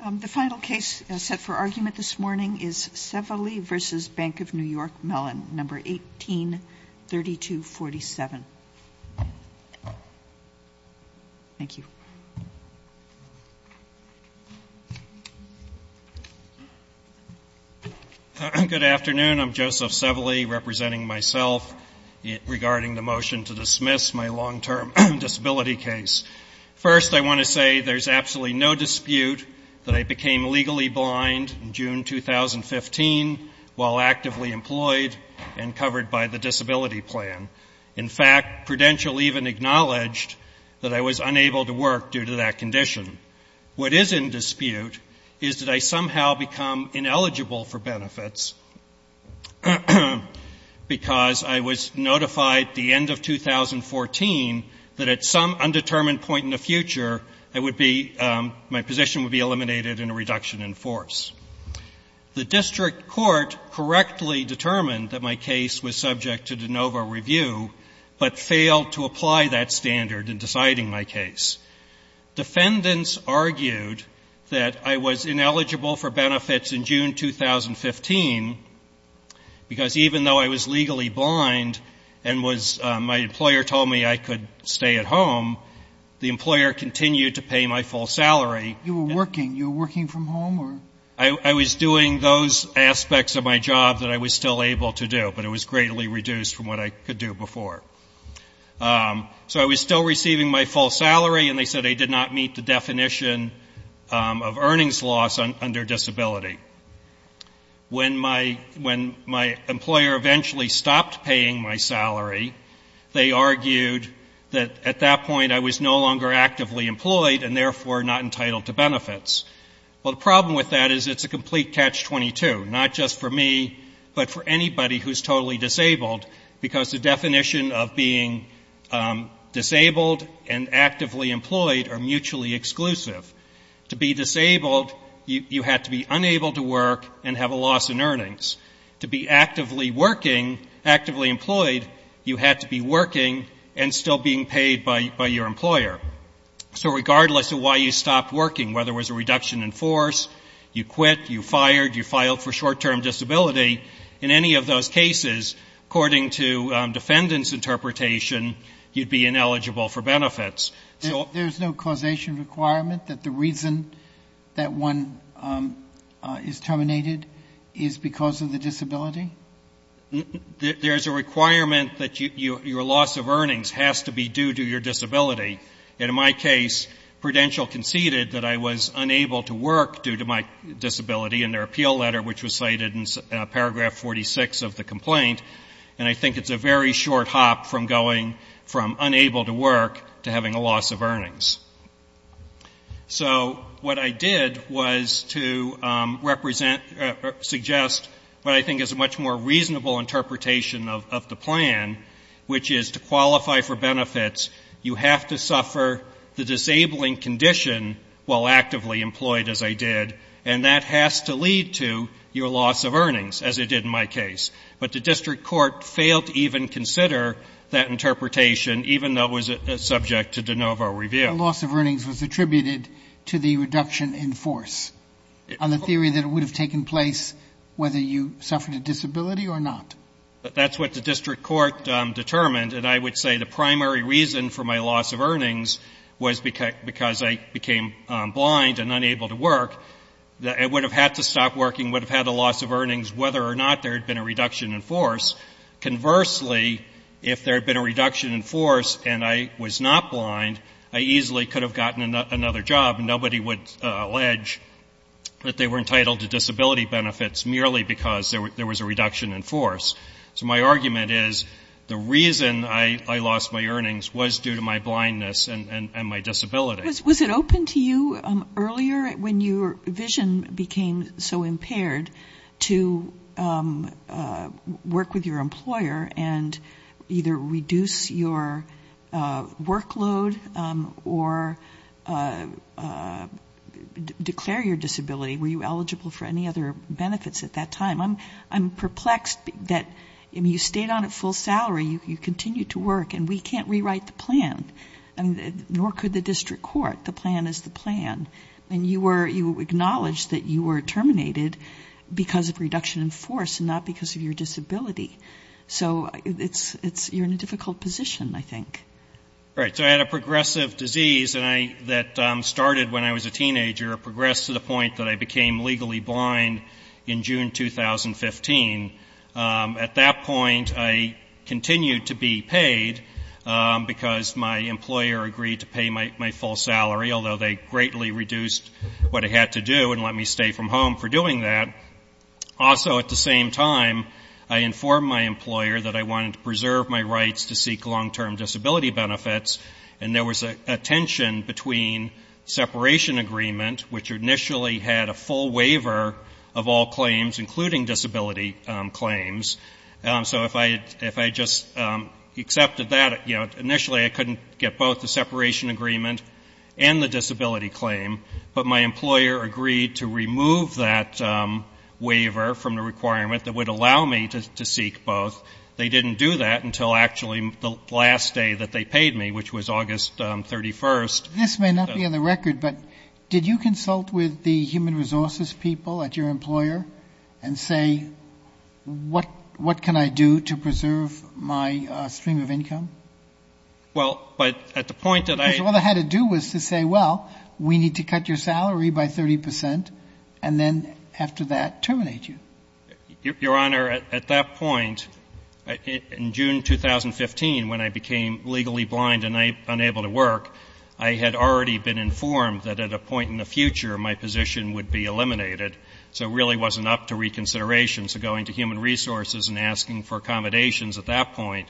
Mellon, No. 18-3247. Thank you. Good afternoon. I'm Joseph Sevely, representing myself, regarding the motion to dismiss my long-term disability case. First, I want to say there's absolutely no dispute that I became legally blind in June 2015 while actively employed and covered by the disability plan. In fact, Prudential even acknowledged that I was unable to work due to that condition. What is in dispute is that I somehow become ineligible for benefits because I was notified at the end of 2014 that at some undetermined point in the future I would be, my position would be eliminated in a reduction in force. The district court correctly determined that my case was subject to de novo review, but failed to apply that standard in deciding my case. Defendants argued that I was ineligible for benefits in June 2015 because even though I was legally blind and was, my employer told me I could stay at home, the employer continued to pay my full salary. You were working. You were working from home or? I was doing those aspects of my job that I was still able to do, but it was greatly reduced from what I could do before. So I was still receiving my full salary, and they said they did not meet the definition of earnings loss under disability. When my employer eventually stopped paying my salary, they argued that at that point I was no longer actively employed and therefore not entitled to benefits. Well, the problem with that is it's a complete catch-22, not just for me, but for anybody who is totally disabled, because the definition of being disabled and actively employed are mutually exclusive. To be disabled, you had to be unable to work and have a loss in earnings. To be actively working, actively employed, you had to be working and still being paid by your employer. So regardless of why you stopped working, whether it was a reduction in force, you quit, you fired, you filed for short-term disability, in any of those cases, according to defendant's interpretation, you'd be ineligible for benefits. There's no causation requirement that the reason that one is terminated is because of the disability? There's a requirement that your loss of earnings has to be due to your disability. In my case, Prudential conceded that I was unable to work due to my disability in their appeal letter, which was cited in paragraph 46 of the complaint, and I think it's a very short hop from going from unable to work to having a loss of earnings. So what I did was to represent, suggest what I think is a much more reasonable interpretation of the plan, which is to qualify for benefits, you have to suffer the disabling condition while actively employed, as I did, and that has to lead to your loss of earnings, as it did in my case. But the district court failed to even consider that interpretation, even though it was subject to de novo review. Loss of earnings was attributed to the reduction in force, on the theory that it would have taken place whether you suffered a disability or not? That's what the district court determined, and I would say the primary reason for my loss of earnings was because I became blind and unable to work. I would have had to stop if I thought there had been a reduction in force. Conversely, if there had been a reduction in force and I was not blind, I easily could have gotten another job, and nobody would allege that they were entitled to disability benefits merely because there was a reduction in force. So my argument is the reason I lost my earnings was due to my blindness and my disability. Was it open to you earlier, when your vision became so impaired, to work with your employer and either reduce your workload or declare your disability? Were you eligible for any other benefits at that time? I'm perplexed that you stayed on at full salary, you continued to work, and we can't rewrite the plan, nor could the district court. The plan is the plan. And you were, you acknowledged that you were terminated because of reduction in force and not because of your disability. So it's, it's, you're in a difficult position, I think. Right. So I had a progressive disease and I, that started when I was a teenager, progressed to the point that I became legally blind in June 2015. At that point, I continued to be paid, because my employer agreed to pay my, my full salary, although they greatly reduced what I had to do and let me stay from home for doing that. Also, at the same time, I informed my employer that I wanted to preserve my rights to seek long-term disability benefits, and there was a tension between separation agreement, which initially had a full waiver of all claims, including disability claims. So if I, if I just accepted that, you know, initially I couldn't get both the separation agreement and the disability claim, but my employer agreed to remove that waiver from the requirement that would allow me to seek both. They didn't do that until actually the last day that they paid me, which was August 31st. This may not be on the record, but did you consult with the human resources people at your employer and say, what, what can I do to preserve my stream of income? Well, but at the point that I Because all I had to do was to say, well, we need to cut your salary by 30 percent, and then after that, terminate you. Your Honor, at that point, in June 2015, when I became legally blind and unable to work, I had already been informed that at a point in the future, my position would be eliminated. So it really wasn't up to reconsideration. So going to human resources and asking for accommodations at that point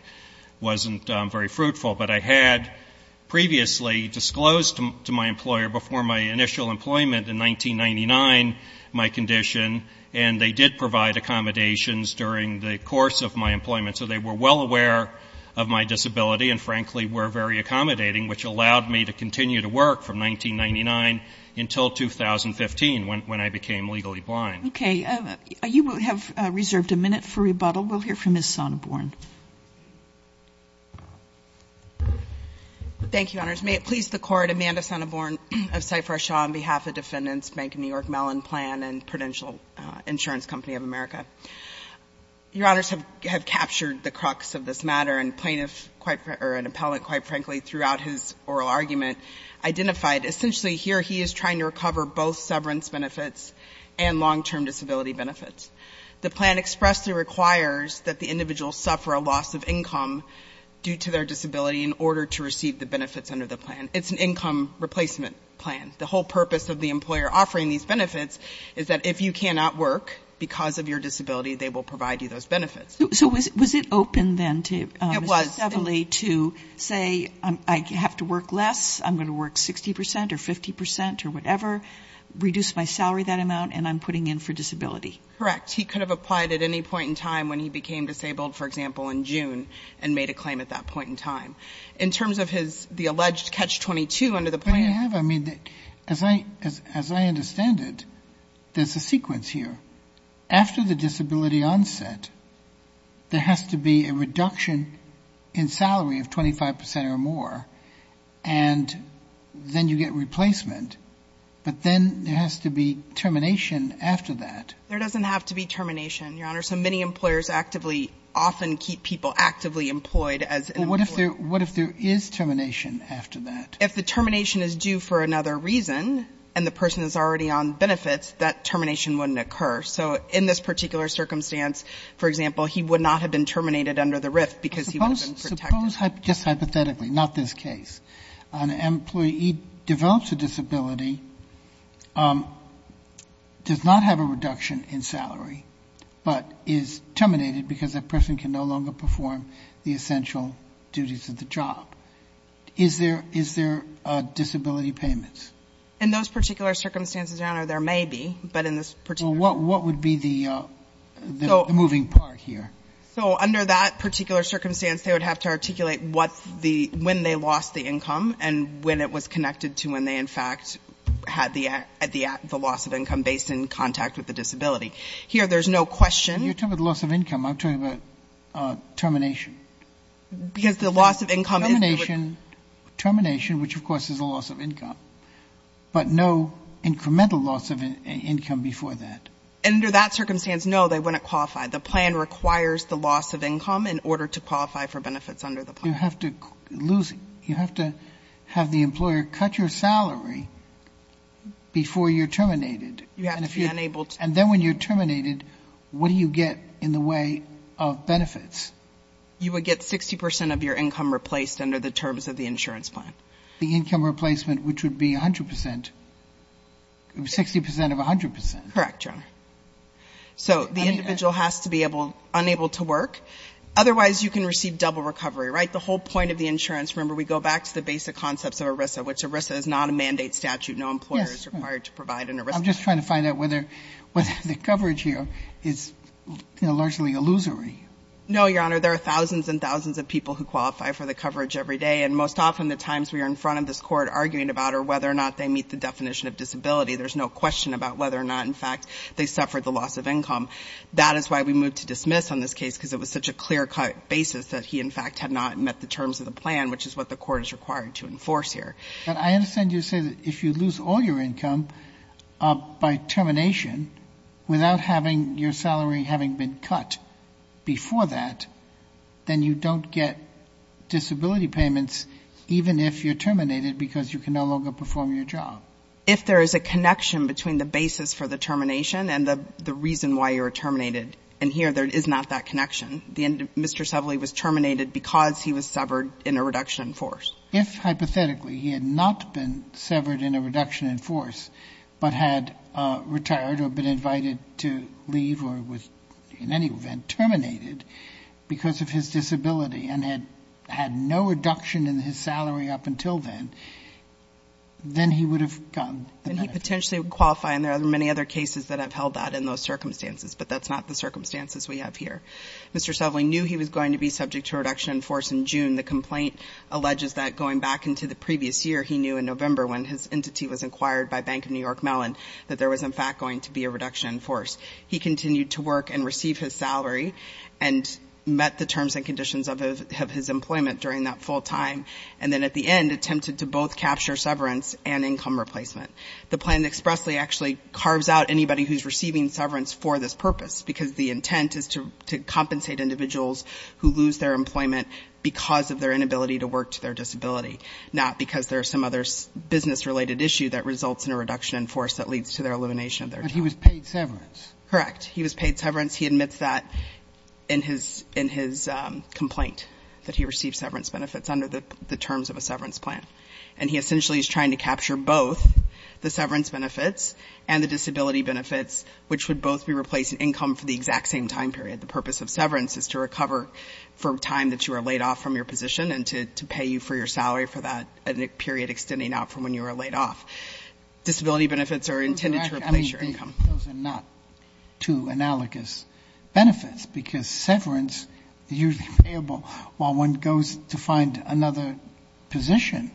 wasn't very fruitful. But I had previously disclosed to my employer before my initial employment in 1999 my condition, and they did provide accommodations during the course of my employment. So they were well aware of my disability and frankly were very accommodating, which allowed me to continue to work from 1999 until 2015, when I became legally blind. Okay. You have reserved a minute for rebuttal. We'll hear from Ms. Sonneborn. Thank you, Your Honors. May it please the Court, Amanda Sonneborn of Cypher Shaw on behalf of Defendants Bank of New York, Mellon Plan and Prudential Insurance Company of America. Your Honors have captured the crux of this matter, and plaintiff quite or an appellant, quite frankly, throughout his oral argument, identified essentially here he is trying to recover both severance benefits and long-term disability benefits. The plan expressly requires that the individual suffer a loss of income due to their disability in order to receive the benefits under the plan. It's an income replacement plan. The whole purpose of the employer offering these benefits is that if you cannot work because of your disability, they will provide you those benefits. So was it open then to Mr. Sevely to say, I have to work less, I'm going to work 60% or 50% or whatever, reduce my salary that amount, and I'm putting in for disability? Correct. He could have applied at any point in time when he became disabled, for example, in June, and made a claim at that point in time. In terms of the alleged catch-22 under the plan... I mean, as I understand it, there's a sequence here. After the disability onset, there has to be a reduction in salary of 25% or more, and then you get replacement. But then there has to be termination after that. There doesn't have to be termination, Your Honor. So many employers often keep people actively employed as an employer. What if there is termination after that? If the termination is due for another reason, and the person is already on benefits, that termination wouldn't occur. So in this particular circumstance, for example, he would not have been terminated under the RIF because he would have been protected. Suppose, just hypothetically, not this case, an employee develops a disability, does not have a reduction in salary, but is terminated because that person can no longer perform the essential duties of the job. Is there disability payments? In those particular circumstances, Your Honor, there may be, but in this particular... Well, what would be the moving part here? So under that particular circumstance, they would have to articulate when they lost the income and when it was connected to when they, in fact, had the loss of income based in contact with the disability. Here, there's no question... You're talking about loss of income. I'm talking about termination. Because the loss of income is... Termination, which of course is a loss of income, but no incremental loss of income before that. Under that circumstance, no, they wouldn't qualify. The plan requires the loss of income in order to qualify for benefits under the plan. You have to lose, you have to have the employer cut your salary before you're terminated. You have to be unable to... And then when you're terminated, what do you get in the way of benefits? You would get 60% of your income replaced under the terms of the insurance plan. The income replacement, which would be 100%, 60% of 100%. Correct, Your Honor. So the individual has to be unable to work. Otherwise, you can receive double recovery, right? The whole point of the insurance, remember, we go back to the basic concepts of ERISA, which ERISA is not a mandate statute. No employer is required to provide an ERISA. I'm just trying to find out whether the coverage here is largely illusory. No, Your Honor. There are thousands and thousands of people who qualify for the coverage every day. And most often, the times we are in front of this court arguing about are whether or not they meet the definition of disability. There's no question about whether or not, in fact, they suffered the loss of income. That is why we moved to dismiss on this case because it was such a clear-cut basis that he, in fact, had not met the terms of the plan, which is what the court is required to enforce here. But I understand you say that if you lose all your income by termination without having your salary having been cut before that, then you don't get disability payments even if you're terminated because you can no longer perform your job. If there is a connection between the basis for the termination and the reason why you were terminated. And here, there is not that connection. Mr. Sevely was terminated because he was severed in a reduction in force. If, hypothetically, he had not been severed in a reduction in force, but had retired or been invited to leave or was, in any event, terminated because of his disability and had no reduction in his salary up until then, then he would have gotten the benefit. And he potentially would qualify, and there are many other cases that have held that in those circumstances, but that's not the circumstances we have here. Mr. Sevely knew he was going to be subject to a reduction in force in June. The complaint alleges that going back into the previous year, he knew in November when his entity was acquired by Bank of New York Mellon that there was, in fact, going to be a reduction in force. He continued to work and receive his salary and met the terms and conditions of his employment during that full time and then, at the end, attempted to both capture severance and income replacement. The plan expressly actually carves out anybody who's receiving severance for this purpose because the intent is to compensate individuals who lose their employment because of their inability to work to their disability, not because there are some other business-related issue that results in a reduction in force that leads to their elimination of their job. But he was paid severance. Correct. He was paid severance. He admits that in his complaint, that he received severance benefits under the terms of a severance plan. And he essentially is trying to capture both the severance benefits and the disability benefits, which would both be replaced in income for the exact same time period. The purpose of severance is to recover for time that you are laid off from your position and to pay you for your salary for that period extending out from when you were laid off. Disability benefits are intended to replace your income. Those are not two analogous benefits because severance is usually payable while one goes to find another position,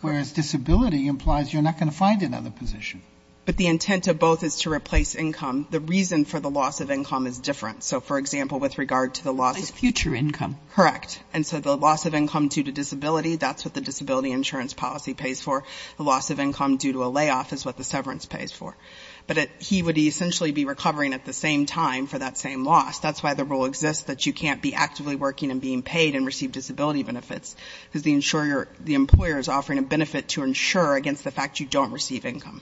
whereas disability implies you're not going to find another position. But the intent of both is to replace income. The reason for the loss of income is different. So, for example, with regard to the loss of... It implies future income. Correct. And so the loss of income due to disability, that's what the disability insurance policy pays for. The loss of income due to a layoff is what the severance pays for. But he would essentially be recovering at the same time for that same loss. That's why the rule exists that you can't be actively working and being paid and receive disability benefits because the employer is offering a benefit to insure against the fact you don't receive income.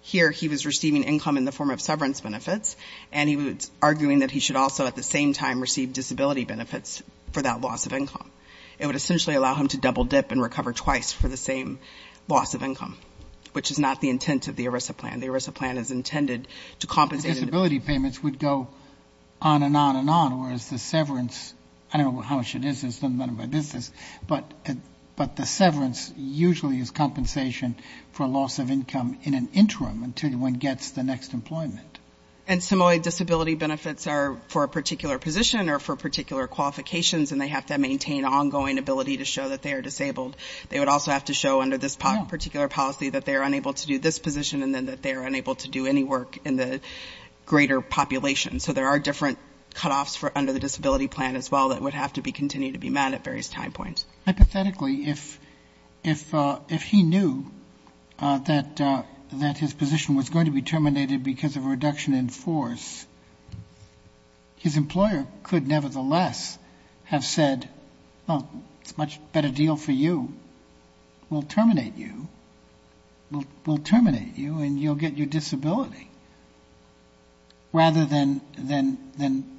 Here, he was receiving income in the form of severance benefits and he was arguing that he should also at the same time receive disability benefits for that loss of income. It would essentially allow him to double dip and recover twice for the same loss of income, which is not the intent of the ERISA plan. The ERISA plan is intended to compensate... Disability payments would go on and on and on, whereas the severance... I don't know how much it is. It's none of my business. But the severance usually is compensation for loss of income in an interim until one gets the next employment. And similarly, disability benefits are for a particular position or for particular qualifications, and they have to maintain ongoing ability to show that they are disabled. They would also have to show under this particular policy that they are unable to do this position and then that they are unable to do any work in the greater population. So there are different cutoffs under the disability plan as well that would have to continue to be met at various time points. Hypothetically, if he knew that his position was going to be terminated because of a reduction in force, his employer could nevertheless have said, well, it's a much better deal for you. We'll terminate you. We'll terminate you, and you'll get your disability. Rather than...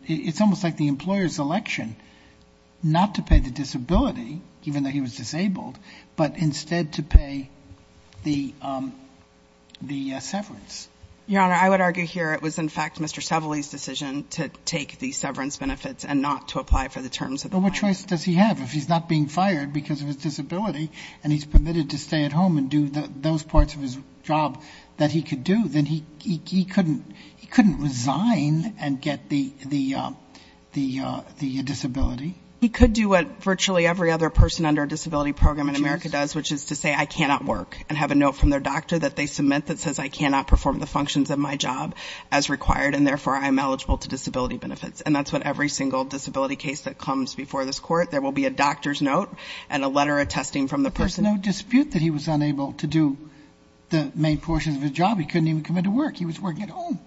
It's almost like the employer's election not to pay the disability, even though he was disabled, but instead to pay the severance. Your Honor, I would argue here it was, in fact, Mr. Sevely's decision to take the severance benefits and not to apply for the terms of the plan. But what choice does he have? If he's not being fired because of his disability and he's permitted to stay at home and do those parts of his job that he could do, then he couldn't resign and get the disability. He could do what virtually every other person under a disability program in America does, which is to say, I cannot work, and have a note from their doctor that they submit that says I cannot perform the functions of my job as required, and therefore I'm eligible to disability benefits. And that's what every single disability case that comes before this Court, there will be a doctor's note and a letter attesting from the person. But there's no dispute that he was unable to do the main portions of his job. He couldn't even come into work. He was working at home.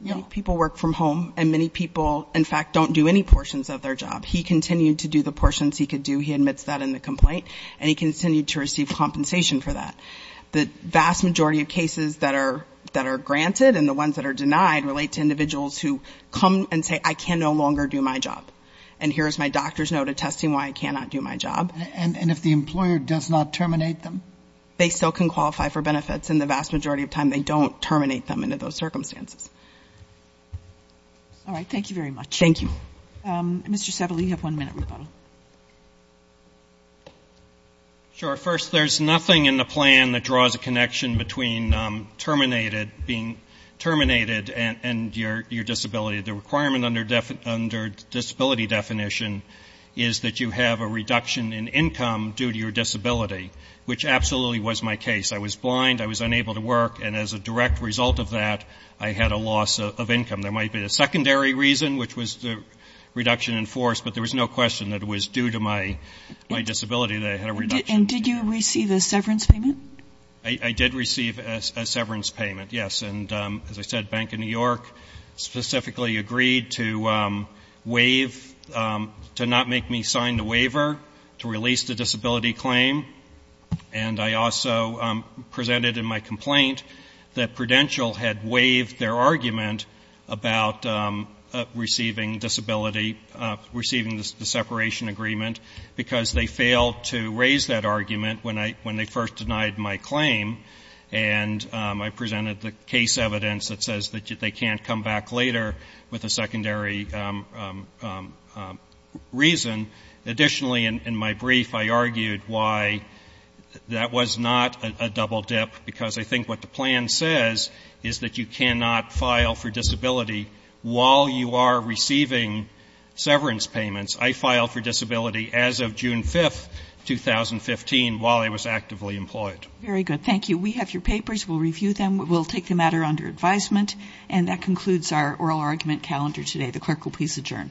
Many people work from home, and many people, in fact, don't do any portions of their job. He continued to do the portions he could do. He admits that in the complaint, and he continued to receive compensation for that. The vast majority of cases that are granted and the ones that are denied relate to individuals who come and say, I can no longer do my job, and here is my doctor's note attesting why I cannot do my job. And if the employer does not terminate them? They still can qualify for benefits. And the vast majority of time, they don't terminate them under those circumstances. All right. Thank you very much. Thank you. Mr. Settle, you have one minute. Sure. First, there's nothing in the plan that draws a connection between being terminated and your disability. The requirement under disability definition is that you have a reduction in income due to your disability, which absolutely was my case. I was blind. I was unable to work. And as a direct result of that, I had a loss of income. There might be a secondary reason, which was the reduction in force, but there was no question that it was due to my disability that I had a reduction. And did you receive a severance payment? I did receive a severance payment, yes. And as I said, Bank of New York specifically agreed to waive, to not make me sign the waiver, to release the disability claim. And I also presented in my complaint that Prudential had waived their argument about receiving disability, receiving the separation agreement, because they failed to raise that argument when they first denied my claim. And I presented the case evidence that says that they can't come back later with a secondary reason. Additionally, in my brief, I argued why that was not a double dip, because I think what the plan says is that you cannot file for disability while you are receiving severance payments. I filed for disability as of June 5, 2015, while I was actively employed. Very good. Thank you. We have your papers. We'll review them. We'll take the matter under advisement. And that concludes our oral argument calendar today. The clerk will please adjourn. Clerk, please adjourn.